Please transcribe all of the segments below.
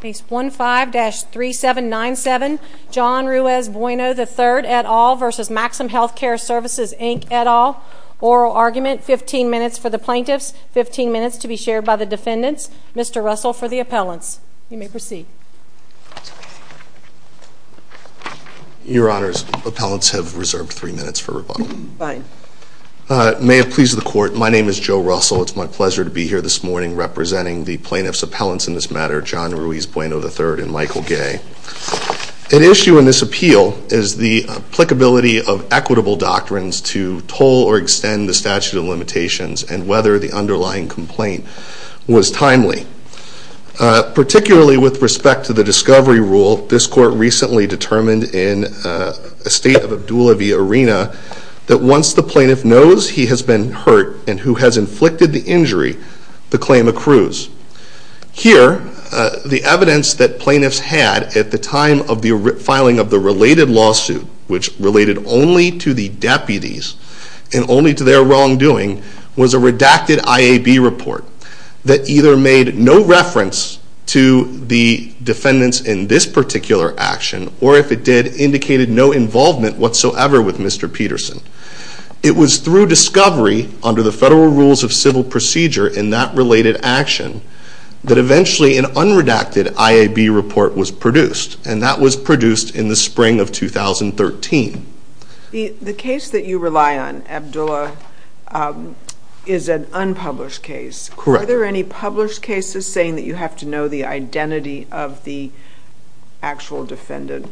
Case 15-3797, John Ruiz-Bueno III et al. v. Maxim Healthcare Services Inc. et al. Oral argument, 15 minutes for the plaintiffs, 15 minutes to be shared by the defendants. Mr. Russell for the appellants. You may proceed. Your Honors, the appellants have reserved 3 minutes for rebuttal. Fine. May it please the Court, my name is Joe Russell. It's my pleasure to be here this morning representing the plaintiffs' appellants in this matter, John Ruiz-Bueno III and Michael Gay. An issue in this appeal is the applicability of equitable doctrines to toll or extend the statute of limitations and whether the underlying complaint was timely. Particularly with respect to the discovery rule, this Court recently determined in a State of Abdullah v. Arena that once the plaintiff knows he has been hurt and who has inflicted the injury, the claim accrues. Here, the evidence that plaintiffs had at the time of the filing of the related lawsuit, which related only to the deputies and only to their wrongdoing, was a redacted IAB report that either made no reference to the defendants in this particular action, or if it did, indicated no involvement whatsoever with Mr. Peterson. It was through discovery under the Federal Rules of Civil Procedure in that related action that eventually an unredacted IAB report was produced, and that was produced in the spring of 2013. The case that you rely on, Abdullah, is an unpublished case. Correct. Are there any published cases saying that you have to know the identity of the actual defendant?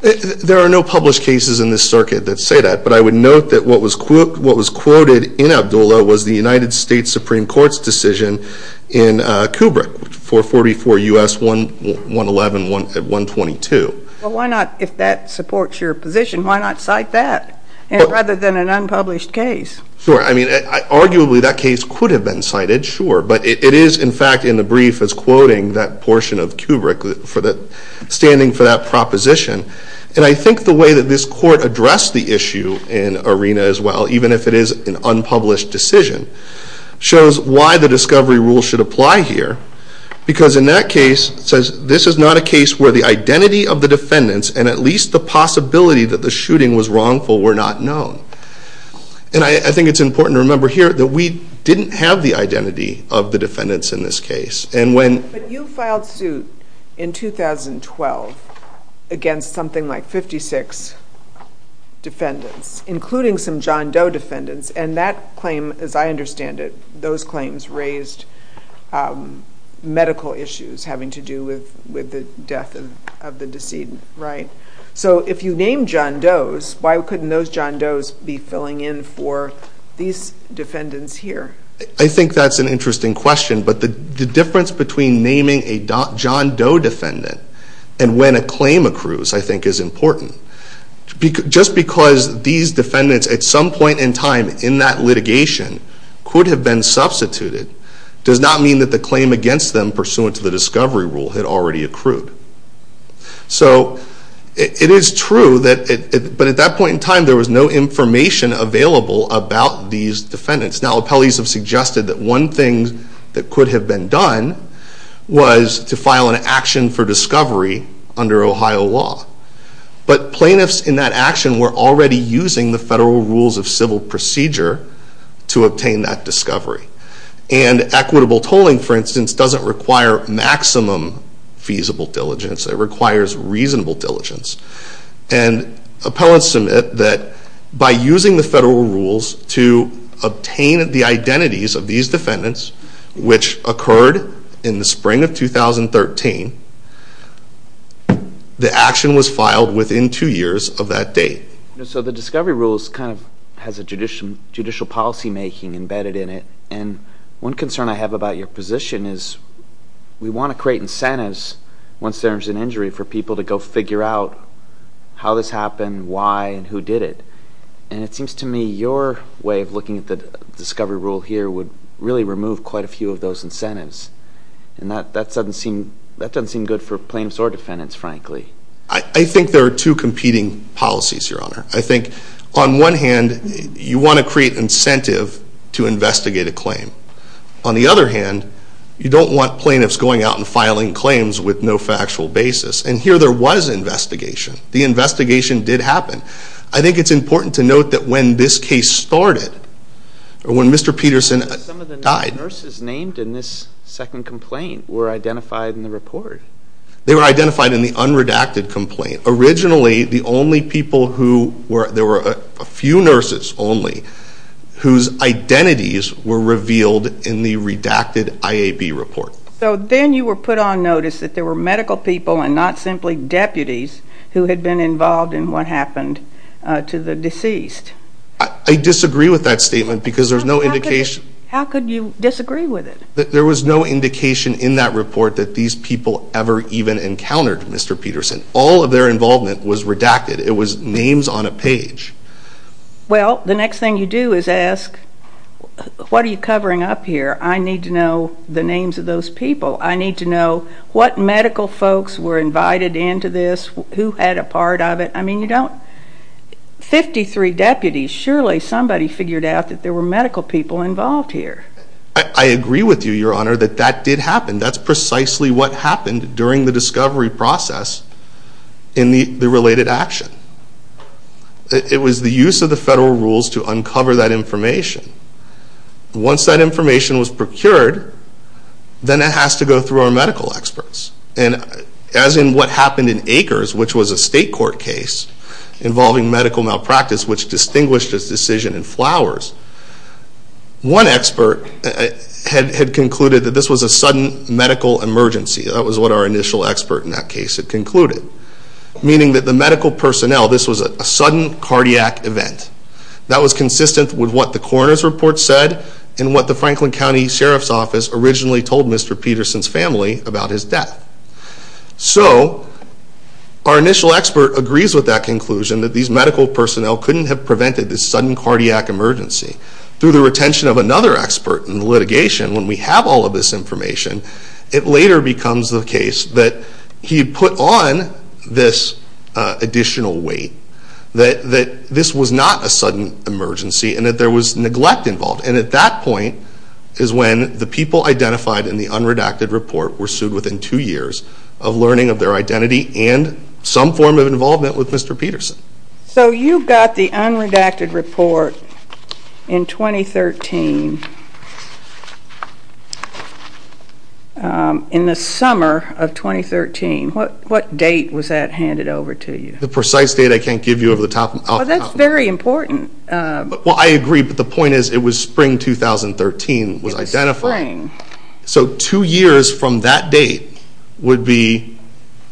There are no published cases in this circuit that say that, but I would note that what was quoted in Abdullah was the United States Supreme Court's decision in Kubrick for 44 U.S. 111-122. Well, why not, if that supports your position, why not cite that rather than an unpublished case? Sure. I mean, arguably, that case could have been cited, sure, but it is, in fact, in the brief, it's quoting that portion of Kubrick standing for that proposition. And I think the way that this Court addressed the issue in Arena as well, even if it is an unpublished decision, shows why the discovery rule should apply here, because in that case, it says, this is not a case where the identity of the defendants and at least the possibility that the shooting was wrongful were not known. And I think it's important to remember here that we didn't have the identity of the defendants in this case. But you filed suit in 2012 against something like 56 defendants, including some John Doe defendants, and that claim, as I understand it, those claims raised medical issues having to do with the death of the decedent, right? So if you named John Doe's, why couldn't those John Doe's be filling in for these defendants here? I think that's an interesting question. But the difference between naming a John Doe defendant and when a claim accrues, I think, is important. Just because these defendants at some point in time in that litigation could have been substituted does not mean that the claim against them pursuant to the discovery rule had already accrued. So it is true, but at that point in time, there was no information available about these defendants. Now, appellees have suggested that one thing that could have been done was to file an action for discovery under Ohio law. But plaintiffs in that action were already using the federal rules of civil procedure to obtain that discovery. And equitable tolling, for instance, doesn't require maximum feasible diligence. It requires reasonable diligence. And appellants submit that by using the federal rules to obtain the identities of these defendants, which occurred in the spring of 2013, the action was filed within two years of that date. So the discovery rules kind of has a judicial policymaking embedded in it. And one concern I have about your position is we want to create incentives once there's an injury for people to go figure out how this happened, why, and who did it. And it seems to me your way of looking at the discovery rule here would really remove quite a few of those incentives. And that doesn't seem good for plaintiffs or defendants, frankly. I think there are two competing policies, Your Honor. I think on one hand, you want to create incentive to investigate a claim. On the other hand, you don't want plaintiffs going out and filing claims with no factual basis. And here there was investigation. The investigation did happen. I think it's important to note that when this case started, or when Mr. Peterson died. Some of the nurses named in this second complaint were identified in the report. They were identified in the unredacted complaint. Originally, the only people who were, there were a few nurses only, whose identities were revealed in the redacted IAB report. So then you were put on notice that there were medical people and not simply deputies who had been involved in what happened to the deceased. I disagree with that statement because there's no indication. How could you disagree with it? There was no indication in that report that these people ever even encountered Mr. Peterson. All of their involvement was redacted. It was names on a page. Well, the next thing you do is ask, what are you covering up here? I need to know the names of those people. I need to know what medical folks were invited into this, who had a part of it. I mean, you don't, 53 deputies. Surely somebody figured out that there were medical people involved here. I agree with you, Your Honor, that that did happen. That's precisely what happened during the discovery process in the related action. It was the use of the federal rules to uncover that information. Once that information was procured, then it has to go through our medical experts. And as in what happened in Akers, which was a state court case involving medical malpractice, which distinguished its decision in Flowers, one expert had concluded that this was a sudden medical emergency. That was what our initial expert in that case had concluded. Meaning that the medical personnel, this was a sudden cardiac event. That was consistent with what the coroner's report said and what the Franklin County Sheriff's Office originally told Mr. Peterson's family about his death. So, our initial expert agrees with that conclusion that these medical personnel couldn't have prevented this sudden cardiac emergency. Through the retention of another expert in litigation, when we have all of this information, it later becomes the case that he put on this additional weight. That this was not a sudden emergency and that there was neglect involved. And at that point is when the people identified in the unredacted report were sued within two years of learning of their identity and some form of involvement with Mr. Peterson. So, you got the unredacted report in 2013, in the summer of 2013. What date was that handed over to you? The precise date I can't give you over the top. Well, that's very important. Well, I agree, but the point is it was spring 2013. It was spring. So, two years from that date would be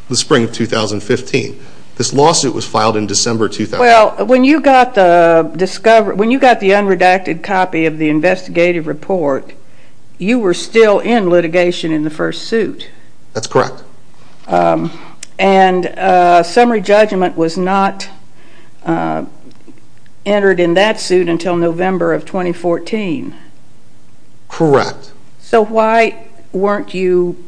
the spring of 2015. This lawsuit was filed in December 2015. Well, when you got the unredacted copy of the investigative report, you were still in litigation in the first suit. That's correct. And summary judgment was not entered in that suit until November of 2014. Correct. So, why weren't you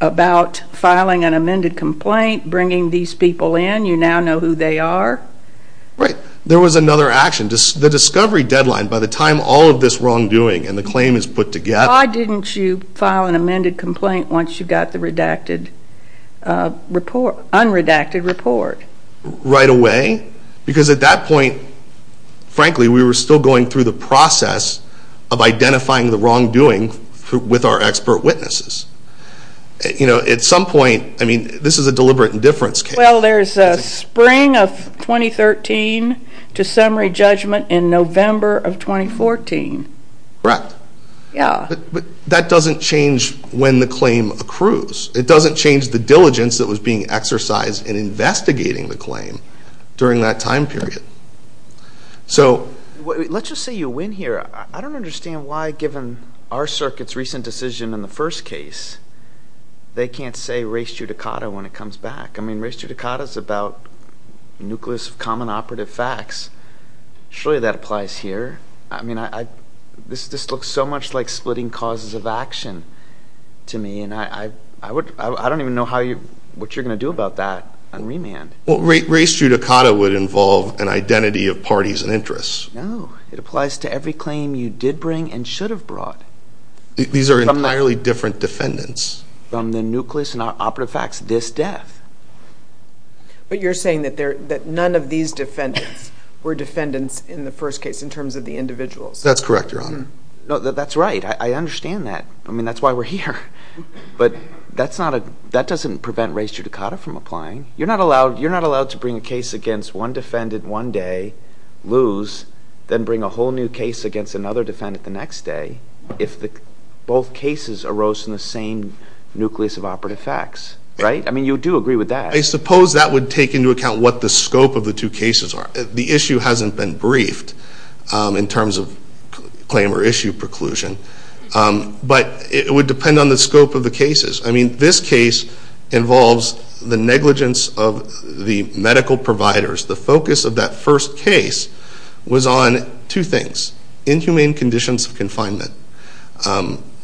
about filing an amended complaint, bringing these people in? You now know who they are. Right. There was another action. The discovery deadline, by the time all of this wrongdoing and the claim is put together. Why didn't you file an amended complaint once you got the unredacted report? Right away? Because at that point, frankly, we were still going through the process of identifying the wrongdoing with our expert witnesses. At some point, I mean, this is a deliberate indifference case. Well, there's spring of 2013 to summary judgment in November of 2014. Correct. But that doesn't change when the claim accrues. It doesn't change the diligence that was being exercised in investigating the claim during that time period. Let's just say you win here. I don't understand why, given our circuit's recent decision in the first case, they can't say res judicata when it comes back. I mean, res judicata is about the nucleus of common operative facts. Surely that applies here. I mean, this looks so much like splitting causes of action to me, and I don't even know what you're going to do about that on remand. Well, res judicata would involve an identity of parties and interests. No. It applies to every claim you did bring and should have brought. These are entirely different defendants. From the nucleus and our operative facts this death. But you're saying that none of these defendants were defendants in the first case in terms of the individuals. That's correct, Your Honor. No, that's right. I understand that. I mean, that's why we're here. But that doesn't prevent res judicata from applying. You're not allowed to bring a case against one defendant one day, lose, then bring a whole new case against another defendant the next day, if both cases arose in the same nucleus of operative facts, right? I mean, you do agree with that. I suppose that would take into account what the scope of the two cases are. The issue hasn't been briefed in terms of claim or issue preclusion, but it would depend on the scope of the cases. I mean, this case involves the negligence of the medical providers. The focus of that first case was on two things, inhumane conditions of confinement,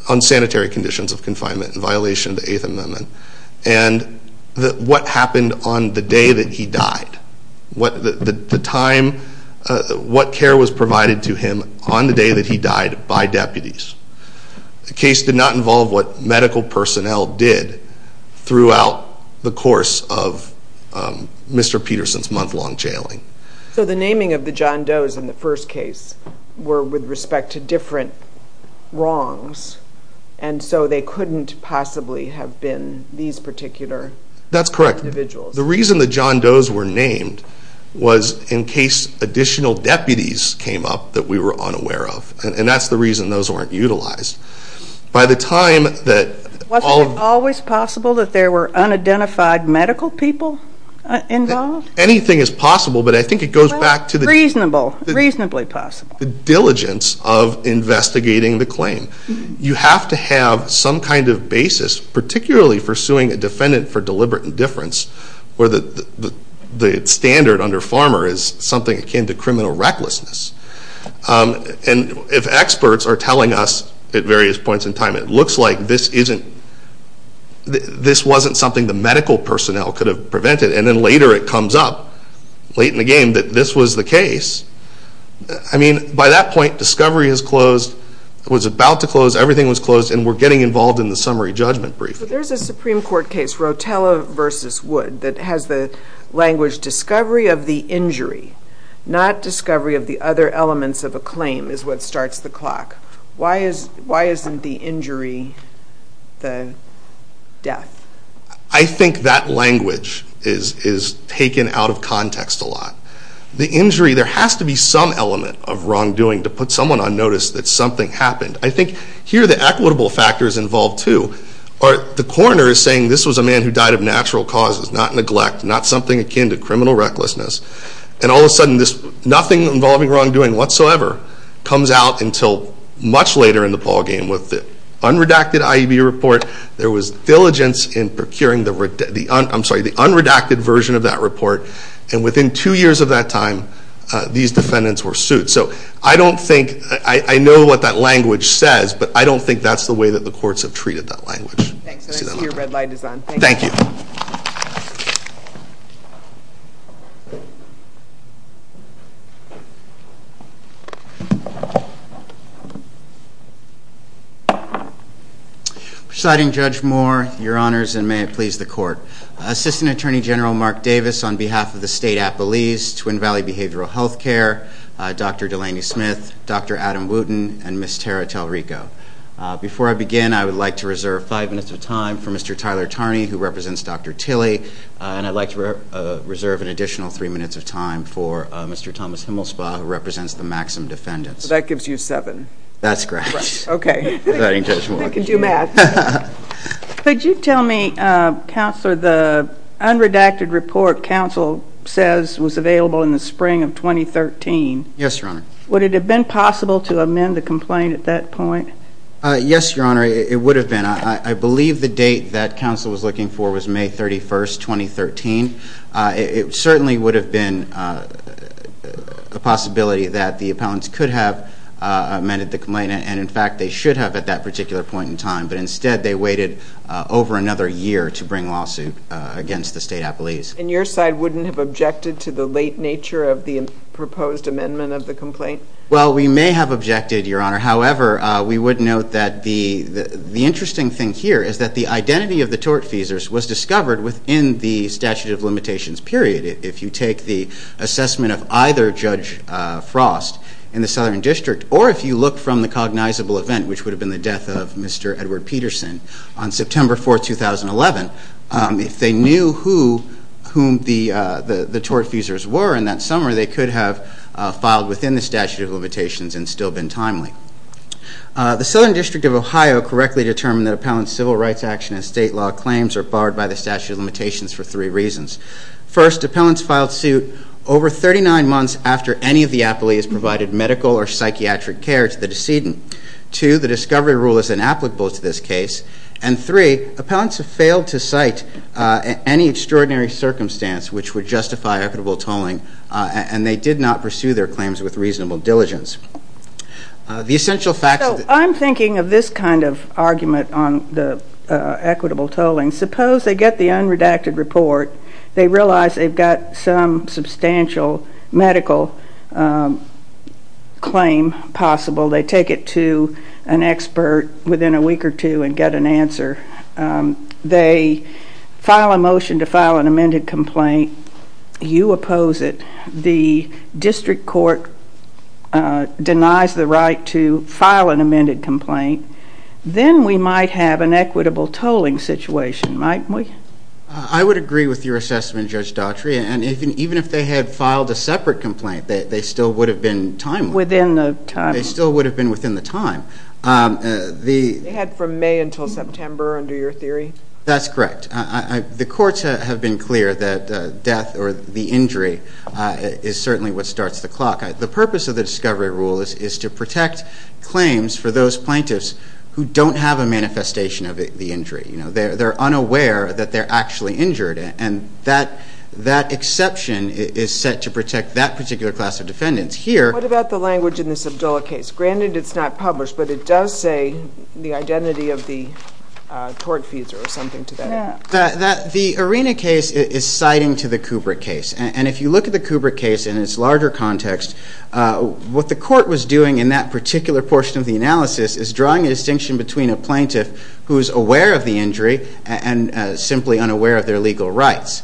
unsanitary conditions of confinement, violation of the Eighth Amendment, and what happened on the day that he died, what care was provided to him on the day that he died by deputies. The case did not involve what medical personnel did throughout the course of Mr. Peterson's month-long jailing. So the naming of the John Does in the first case were with respect to different wrongs, and so they couldn't possibly have been these particular individuals. That's correct. The reason the John Does were named was in case additional deputies came up that we were unaware of, and that's the reason those weren't utilized. Wasn't it always possible that there were unidentified medical people involved? Anything is possible, but I think it goes back to the diligence of investigating the claim. You have to have some kind of basis, particularly for suing a defendant for deliberate indifference, where the standard under Farmer is something akin to criminal recklessness. And if experts are telling us at various points in time, it looks like this wasn't something the medical personnel could have prevented, and then later it comes up, late in the game, that this was the case. I mean, by that point, discovery was about to close, everything was closed, and we're getting involved in the summary judgment brief. There's a Supreme Court case, Rotella v. Wood, that has the language, discovery of the injury, not discovery of the other elements of a claim, is what starts the clock. Why isn't the injury the death? I think that language is taken out of context a lot. The injury, there has to be some element of wrongdoing to put someone on notice that something happened. I think here the equitable factor is involved, too. The coroner is saying this was a man who died of natural causes, not neglect, not something akin to criminal recklessness, and all of a sudden this nothing involving wrongdoing whatsoever comes out until much later in the ballgame. With the unredacted IEB report, there was diligence in procuring the unredacted version of that report, and within two years of that time, these defendants were sued. So I don't think, I know what that language says, but I don't think that's the way that the courts have treated that language. Your red light is on. Thank you. Presiding Judge Moore, Your Honors, and may it please the Court. Assistant Attorney General Mark Davis, on behalf of the State Appellees, Twin Valley Behavioral Health Care, Dr. Delaney Smith, Dr. Adam Wooten, and Ms. Tara Talrico. Before I begin, I would like to reserve five minutes of time for Mr. Tyler Tarney, who represents Dr. Tilley, and I'd like to reserve an additional three minutes of time for Mr. Thomas Himmelsbaugh, who represents the Maxim defendants. So that gives you seven. That's correct. Okay. Thank you, Judge Moore. Thank you, Matt. Could you tell me, Counselor, the unredacted report Counsel says was available in the spring of 2013. Yes, Your Honor. Would it have been possible to amend the complaint at that point? Yes, Your Honor, it would have been. I believe the date that Counsel was looking for was May 31, 2013. It certainly would have been a possibility that the appellants could have amended the complaint, and, in fact, they should have at that particular point in time, but instead they waited over another year to bring lawsuit against the State Appellees. And your side wouldn't have objected to the late nature of the proposed amendment of the complaint? Well, we may have objected, Your Honor. However, we would note that the interesting thing here is that the identity of the tortfeasors was discovered within the statute of limitations period. If you take the assessment of either Judge Frost in the Southern District, or if you look from the cognizable event, which would have been the death of Mr. Edward Peterson on September 4, 2011, if they knew whom the tortfeasors were in that summer, they could have filed within the statute of limitations and still been timely. The Southern District of Ohio correctly determined that appellants' civil rights action and state law claims are barred by the statute of limitations for three reasons. First, appellants filed suit over 39 months after any of the appellees provided medical or psychiatric care to the decedent. Two, the discovery rule is inapplicable to this case. And three, appellants have failed to cite any extraordinary circumstance which would justify equitable tolling, and they did not pursue their claims with reasonable diligence. So I'm thinking of this kind of argument on the equitable tolling. Suppose they get the unredacted report. They realize they've got some substantial medical claim possible. They take it to an expert within a week or two and get an answer. They file a motion to file an amended complaint. You oppose it. The district court denies the right to file an amended complaint. Then we might have an equitable tolling situation, mightn't we? I would agree with your assessment, Judge Daughtry. And even if they had filed a separate complaint, they still would have been timely. Within the time. They still would have been within the time. They had from May until September under your theory? That's correct. The courts have been clear that death or the injury is certainly what starts the clock. The purpose of the discovery rule is to protect claims for those plaintiffs who don't have a manifestation of the injury. They're unaware that they're actually injured, and that exception is set to protect that particular class of defendants. What about the language in this Abdullah case? Granted it's not published, but it does say the identity of the tortfeasor or something to that effect. The Arena case is citing to the Kubrick case. And if you look at the Kubrick case in its larger context, what the court was doing in that particular portion of the analysis is drawing a distinction between a plaintiff who is aware of the injury and simply unaware of their legal rights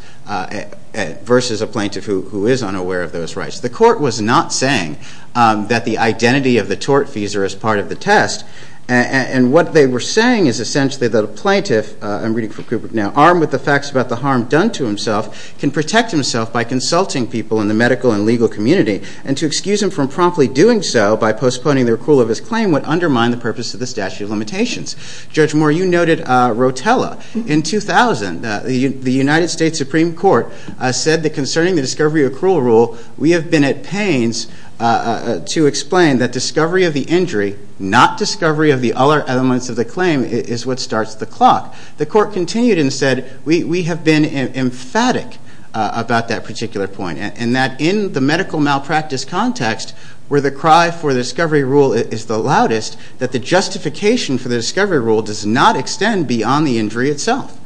versus a plaintiff who is unaware of those rights. The court was not saying that the identity of the tortfeasor is part of the test. And what they were saying is essentially that a plaintiff, I'm reading from Kubrick now, armed with the facts about the harm done to himself, can protect himself by consulting people in the medical and legal community. And to excuse him from promptly doing so by postponing the accrual of his claim would undermine the purpose of the statute of limitations. Judge Moore, you noted Rotella. In 2000, the United States Supreme Court said that concerning the discovery accrual rule, we have been at pains to explain that discovery of the injury, not discovery of the other elements of the claim, is what starts the clock. The court continued and said, we have been emphatic about that particular point. And that in the medical malpractice context, where the cry for the discovery rule is the loudest, that the justification for the discovery rule does not extend beyond the injury itself.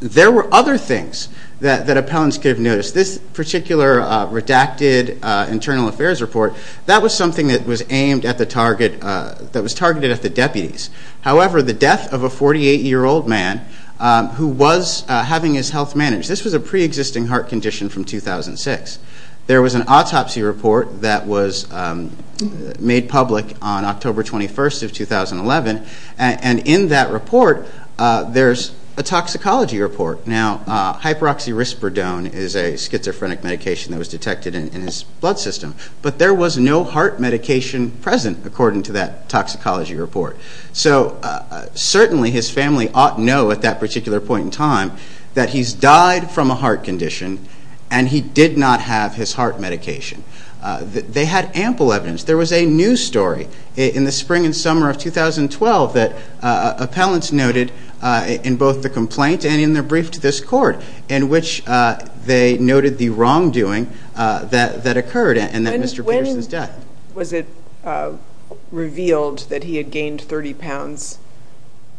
There were other things that appellants could have noticed. This particular redacted internal affairs report, that was something that was aimed at the target, that was targeted at the deputies. However, the death of a 48-year-old man, who was having his health managed, this was a pre-existing heart condition from 2006. There was an autopsy report that was made public on October 21st of 2011. And in that report, there's a toxicology report. Now, hyperoxirispridone is a schizophrenic medication that was detected in his blood system. But there was no heart medication present, according to that toxicology report. So, certainly his family ought to know at that particular point in time, that he's died from a heart condition, and he did not have his heart medication. They had ample evidence. There was a news story in the spring and summer of 2012, that appellants noted in both the complaint and in their brief to this court, in which they noted the wrongdoing that occurred in Mr. Peterson's death. Was it revealed that he had gained 30 pounds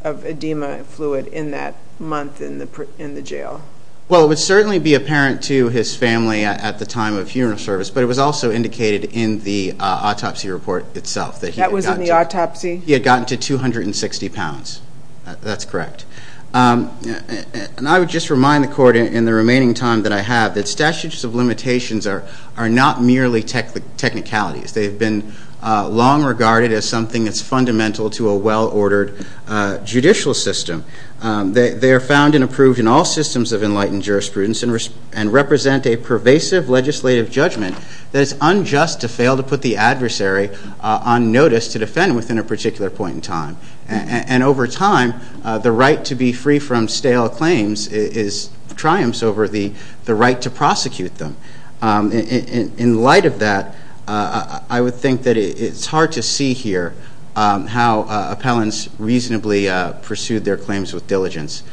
of edema fluid in that month in the jail? Well, it would certainly be apparent to his family at the time of funeral service, but it was also indicated in the autopsy report itself. That was in the autopsy? He had gotten to 260 pounds. That's correct. And I would just remind the court in the remaining time that I have, that statutes of limitations are not merely technicalities. They've been long regarded as something that's fundamental to a well-ordered judicial system. They are found and approved in all systems of enlightened jurisprudence and represent a pervasive legislative judgment that is unjust to fail to put the adversary on notice to defend within a particular point in time. And over time, the right to be free from stale claims triumphs over the right to prosecute them. In light of that, I would think that it's hard to see here how appellants reasonably pursued their claims with diligence.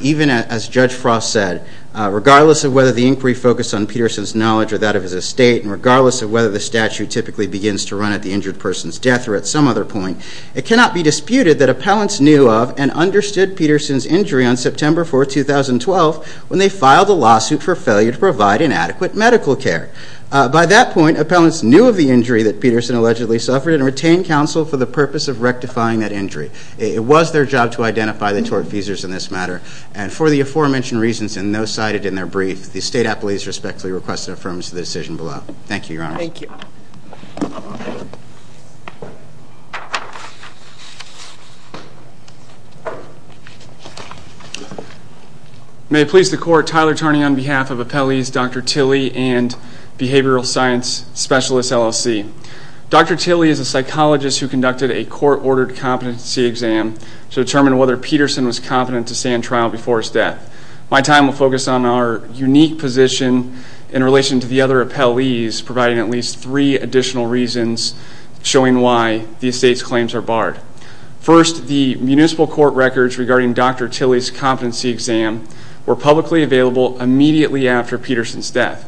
Even as Judge Frost said, regardless of whether the inquiry focused on Peterson's knowledge or that of his estate, and regardless of whether the statute typically begins to run at the injured person's death or at some other point, it cannot be disputed that appellants knew of and understood Peterson's injury on September 4, 2012, when they filed a lawsuit for failure to provide inadequate medical care. By that point, appellants knew of the injury that Peterson allegedly suffered and retained counsel for the purpose of rectifying that injury. It was their job to identify the tort feasors in this matter. And for the aforementioned reasons and those cited in their brief, the State Appellees respectfully request an affirmation of the decision below. Thank you, Your Honor. Thank you. May it please the Court, Tyler Tarney on behalf of Appellees Dr. Tilley and Behavioral Science Specialist, LLC. Dr. Tilley is a psychologist who conducted a court-ordered competency exam to determine whether Peterson was competent to stand trial before his death. My time will focus on our unique position in relation to the other appellees, providing at least three additional reasons showing why the estate's claims are barred. First, the municipal court records regarding Dr. Tilley's competency exam were publicly available immediately after Peterson's death.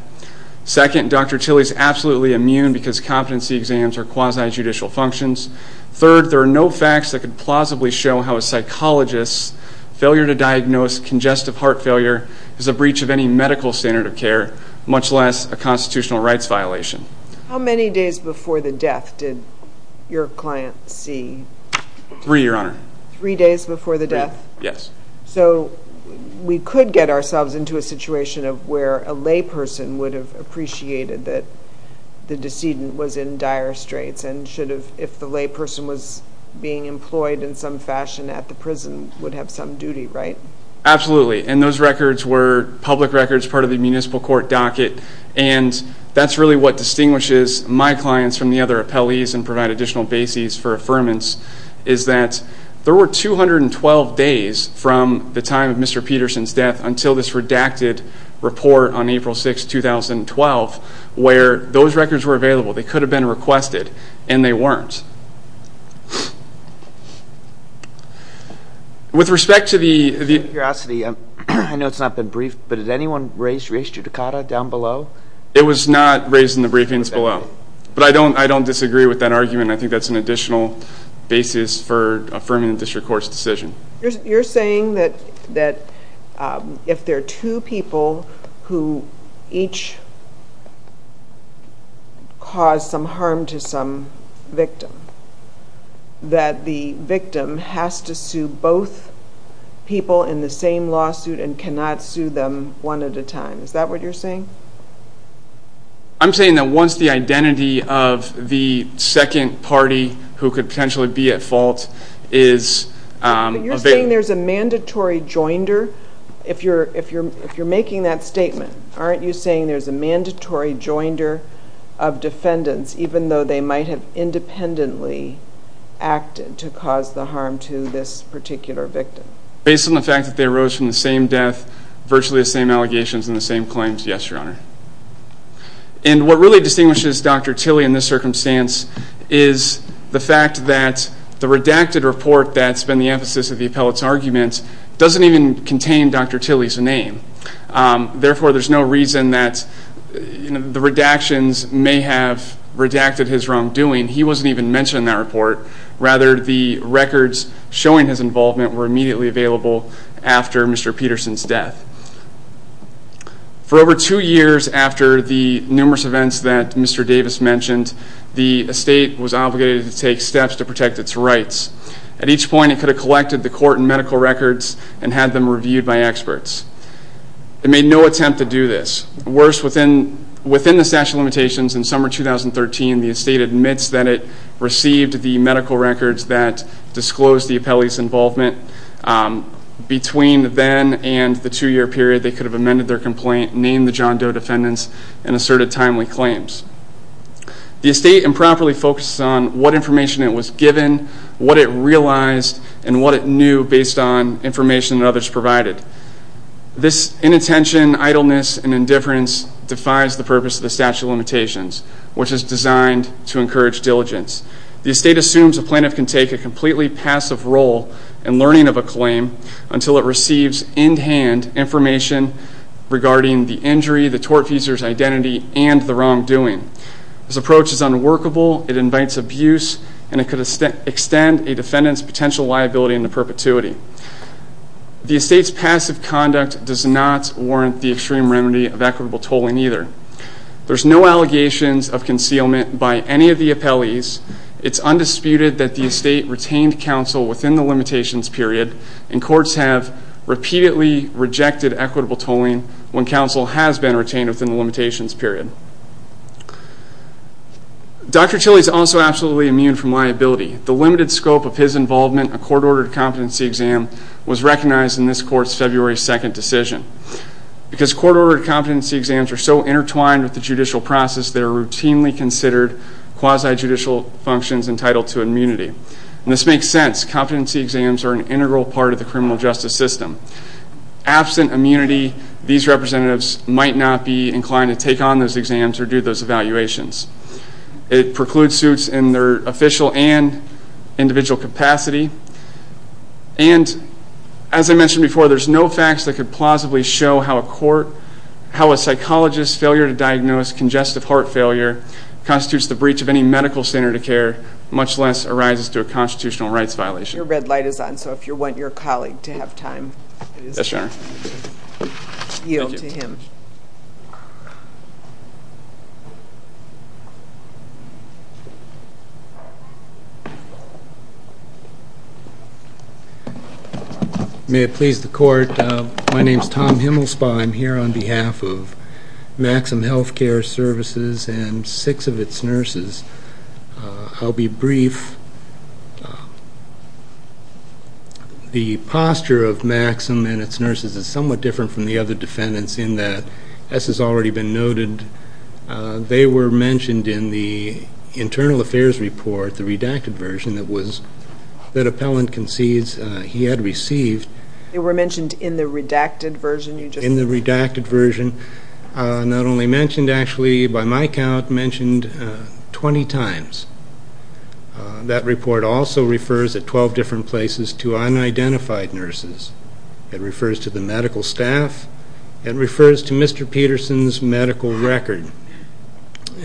Second, Dr. Tilley is absolutely immune because competency exams are quasi-judicial functions. Third, there are no facts that could plausibly show how a psychologist's failure to diagnose congestive heart failure is a breach of any medical standard of care, much less a constitutional rights violation. How many days before the death did your client see? Three, Your Honor. Three days before the death? Yes. So we could get ourselves into a situation of where a layperson would have appreciated that the decedent was in dire straits and should have, if the layperson was being employed in some fashion at the prison, would have some duty, right? Absolutely, and those records were public records, part of the municipal court docket, and that's really what distinguishes my clients from the other appellees and provide additional bases for affirmance is that there were 212 days from the time of Mr. Peterson's death until this redacted report on April 6, 2012, where those records were available. They could have been requested, and they weren't. With respect to the – Out of curiosity, I know it's not been briefed, but did anyone raise re-estudicata down below? It was not raised in the briefings below, but I don't disagree with that argument. I think that's an additional basis for affirming the district court's decision. You're saying that if there are two people who each cause some harm to some victim, that the victim has to sue both people in the same lawsuit and cannot sue them one at a time. Is that what you're saying? I'm saying that once the identity of the second party who could potentially be at fault is – But you're saying there's a mandatory joinder? If you're making that statement, aren't you saying there's a mandatory joinder of defendants, even though they might have independently acted to cause the harm to this particular victim? Based on the fact that they arose from the same death, virtually the same allegations and the same claims, yes, Your Honor. And what really distinguishes Dr. Tilley in this circumstance is the fact that the redacted report that's been the emphasis of the appellate's argument doesn't even contain Dr. Tilley's name. Therefore, there's no reason that the redactions may have redacted his wrongdoing. He wasn't even mentioned in that report. Rather, the records showing his involvement were immediately available after Mr. Peterson's death. For over two years after the numerous events that Mr. Davis mentioned, the estate was obligated to take steps to protect its rights. At each point, it could have collected the court and medical records and had them reviewed by experts. It made no attempt to do this. Worse, within the statute of limitations in summer 2013, the estate admits that it received the medical records that disclosed the appellee's involvement. Between then and the two-year period, they could have amended their complaint, named the John Doe defendants, and asserted timely claims. The estate improperly focuses on what information it was given, what it realized, and what it knew based on information that others provided. This inattention, idleness, and indifference defies the purpose of the statute of limitations, which is designed to encourage diligence. The estate assumes a plaintiff can take a completely passive role in learning of a claim until it receives in hand information regarding the injury, the tortfeasor's identity, and the wrongdoing. This approach is unworkable, it invites abuse, and it could extend a defendant's potential liability into perpetuity. The estate's passive conduct does not warrant the extreme remedy of equitable tolling either. There's no allegations of concealment by any of the appellees. It's undisputed that the estate retained counsel within the limitations period, and courts have repeatedly rejected equitable tolling when counsel has been retained within the limitations period. Dr. Tilly is also absolutely immune from liability. The limited scope of his involvement in a court-ordered competency exam was recognized in this court's February 2nd decision. Because court-ordered competency exams are so intertwined with the judicial process, they are routinely considered quasi-judicial functions entitled to immunity. And this makes sense. Competency exams are an integral part of the criminal justice system. Absent immunity, these representatives might not be inclined to take on those exams or do those evaluations. It precludes suits in their official and individual capacity. And, as I mentioned before, there's no facts that could plausibly show how a court, how a psychologist's failure to diagnose congestive heart failure constitutes the breach of any medical standard of care, much less arises through a constitutional rights violation. Your red light is on, so if you want your colleague to have time... Yes, Your Honor. ...yield to him. May it please the Court, my name's Tom Himmelspa. I'm here on behalf of Maxim Healthcare Services and six of its nurses. I'll be brief. The posture of Maxim and its nurses is somewhat different from the other defendants in that, as has already been noted, they were mentioned in the internal affairs report, the redacted version that was, that appellant concedes he had received. They were mentioned in the redacted version? In the redacted version. Not only mentioned, actually, by my count, mentioned 20 times. That report also refers at 12 different places to unidentified nurses. It refers to the medical staff. It refers to Mr. Peterson's medical record.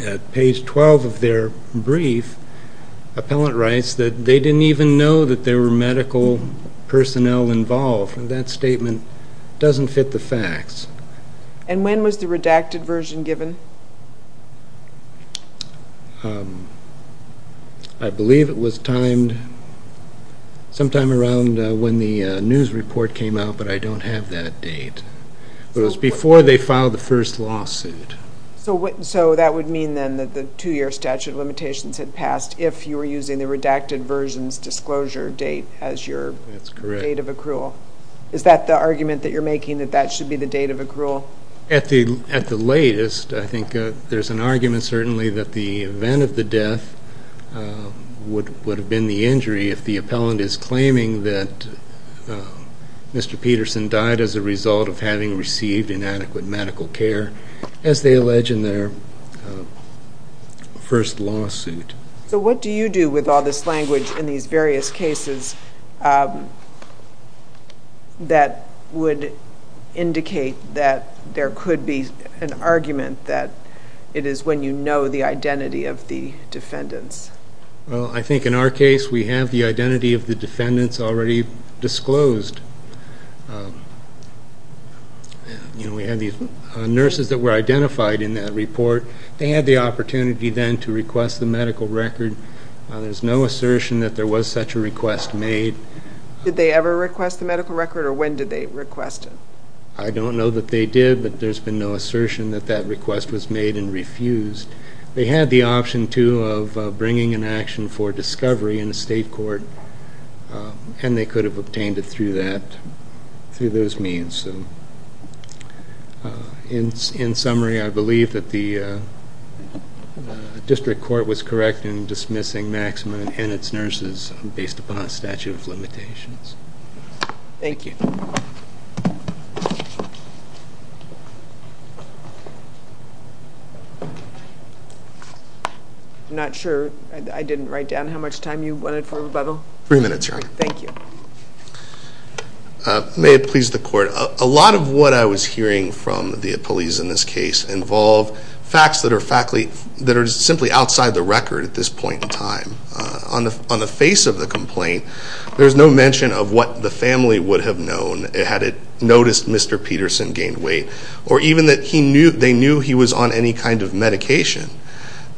At page 12 of their brief, appellant writes that they didn't even know that there were medical personnel involved, and that statement doesn't fit the facts. And when was the redacted version given? I believe it was timed sometime around when the news report came out, but I don't have that date. It was before they filed the first lawsuit. So that would mean, then, that the two-year statute of limitations had passed if you were using the redacted version's disclosure date as your date of accrual? That's correct. Is that the argument that you're making, that that should be the date of accrual? At the latest, I think there's an argument, certainly, that the event of the death would have been the injury if the appellant is claiming that Mr. Peterson died as a result of having received inadequate medical care, as they allege in their first lawsuit. So what do you do with all this language in these various cases that would indicate that there could be an argument that it is when you know the identity of the defendants? Well, I think in our case, we have the identity of the defendants already disclosed. We have the nurses that were identified in that report. They had the opportunity, then, to request the medical record. There's no assertion that there was such a request made. Did they ever request the medical record, or when did they request it? I don't know that they did, but there's been no assertion that that request was made and refused. They had the option, too, of bringing an action for discovery in a state court, and they could have obtained it through those means. In summary, I believe that the district court was correct in dismissing Maximin and its nurses based upon a statute of limitations. Thank you. I'm not sure. I didn't write down how much time you wanted for rebuttal. Three minutes, Your Honor. Thank you. May it please the Court. A lot of what I was hearing from the appellees in this case involved facts that are simply outside the record at this point in time. On the face of the complaint, there's no mention of what the family would have known had it noticed Mr. Peterson gained weight, or even that they knew he was on any kind of medication.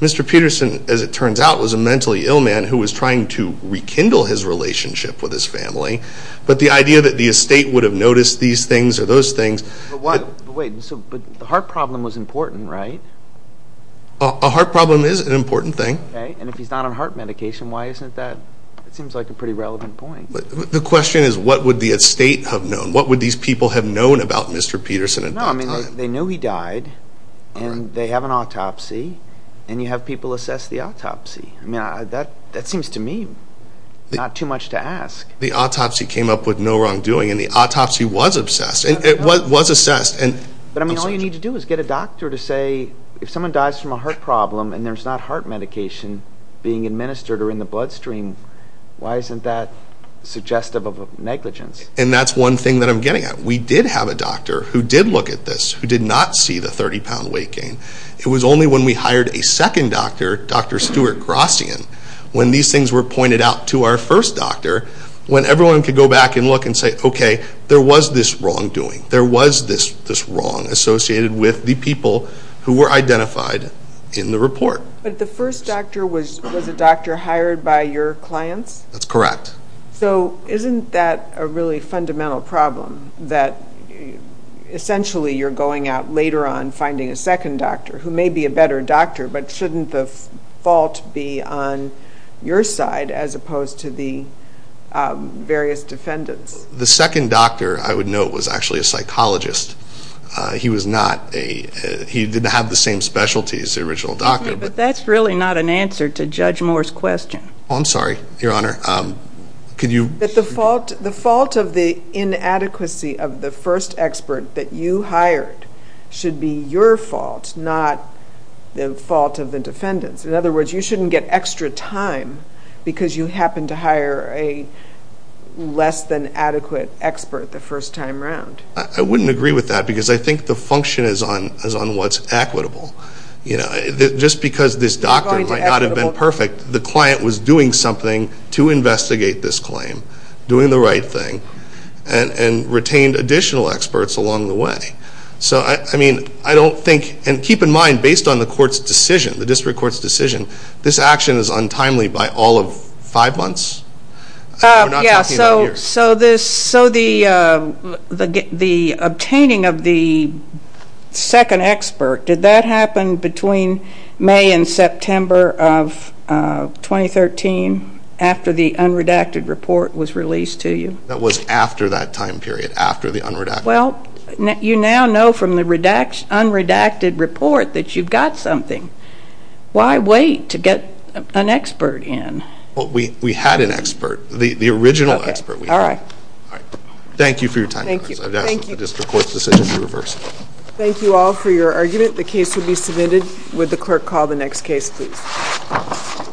Mr. Peterson, as it turns out, was a mentally ill man who was trying to rekindle his relationship with his family, but the idea that the estate would have noticed these things or those things. But the heart problem was important, right? A heart problem is an important thing. And if he's not on heart medication, why isn't that? It seems like a pretty relevant point. The question is, what would the estate have known? What would these people have known about Mr. Peterson at that time? They knew he died, and they have an autopsy, and you have people assess the autopsy. That seems to me not too much to ask. The autopsy came up with no wrongdoing, and the autopsy was assessed. But all you need to do is get a doctor to say if someone dies from a heart problem and there's not heart medication being administered or in the bloodstream, why isn't that suggestive of negligence? And that's one thing that I'm getting at. We did have a doctor who did look at this who did not see the 30-pound weight gain. It was only when we hired a second doctor, Dr. Stuart Grossian, when these things were pointed out to our first doctor, when everyone could go back and look and say, okay, there was this wrongdoing. There was this wrong associated with the people who were identified in the report. But the first doctor was a doctor hired by your clients? That's correct. So isn't that a really fundamental problem that essentially you're going out later on finding a second doctor who may be a better doctor, but shouldn't the fault be on your side as opposed to the various defendants? The second doctor, I would note, was actually a psychologist. He didn't have the same specialty as the original doctor. But that's really not an answer to Judge Moore's question. I'm sorry, Your Honor. But the fault of the inadequacy of the first expert that you hired should be your fault, not the fault of the defendants. In other words, you shouldn't get extra time because you happen to hire a less than adequate expert the first time around. I wouldn't agree with that because I think the function is on what's equitable. Just because this doctor might not have been perfect, the client was doing something to investigate this claim, doing the right thing, and retained additional experts along the way. So, I mean, I don't think, and keep in mind, based on the court's decision, the district court's decision, this action is untimely by all of five months. We're not talking about a year. So the obtaining of the second expert, did that happen between May and September of 2013 after the unredacted report was released to you? That was after that time period, after the unredacted report. Well, you now know from the unredacted report that you've got something. Why wait to get an expert in? Well, we had an expert, the original expert we had. All right. Thank you for your time, Your Honor. Thank you. I'd ask that the district court's decision be reversed. Thank you all for your argument. The case will be submitted. Would the clerk call the next case, please?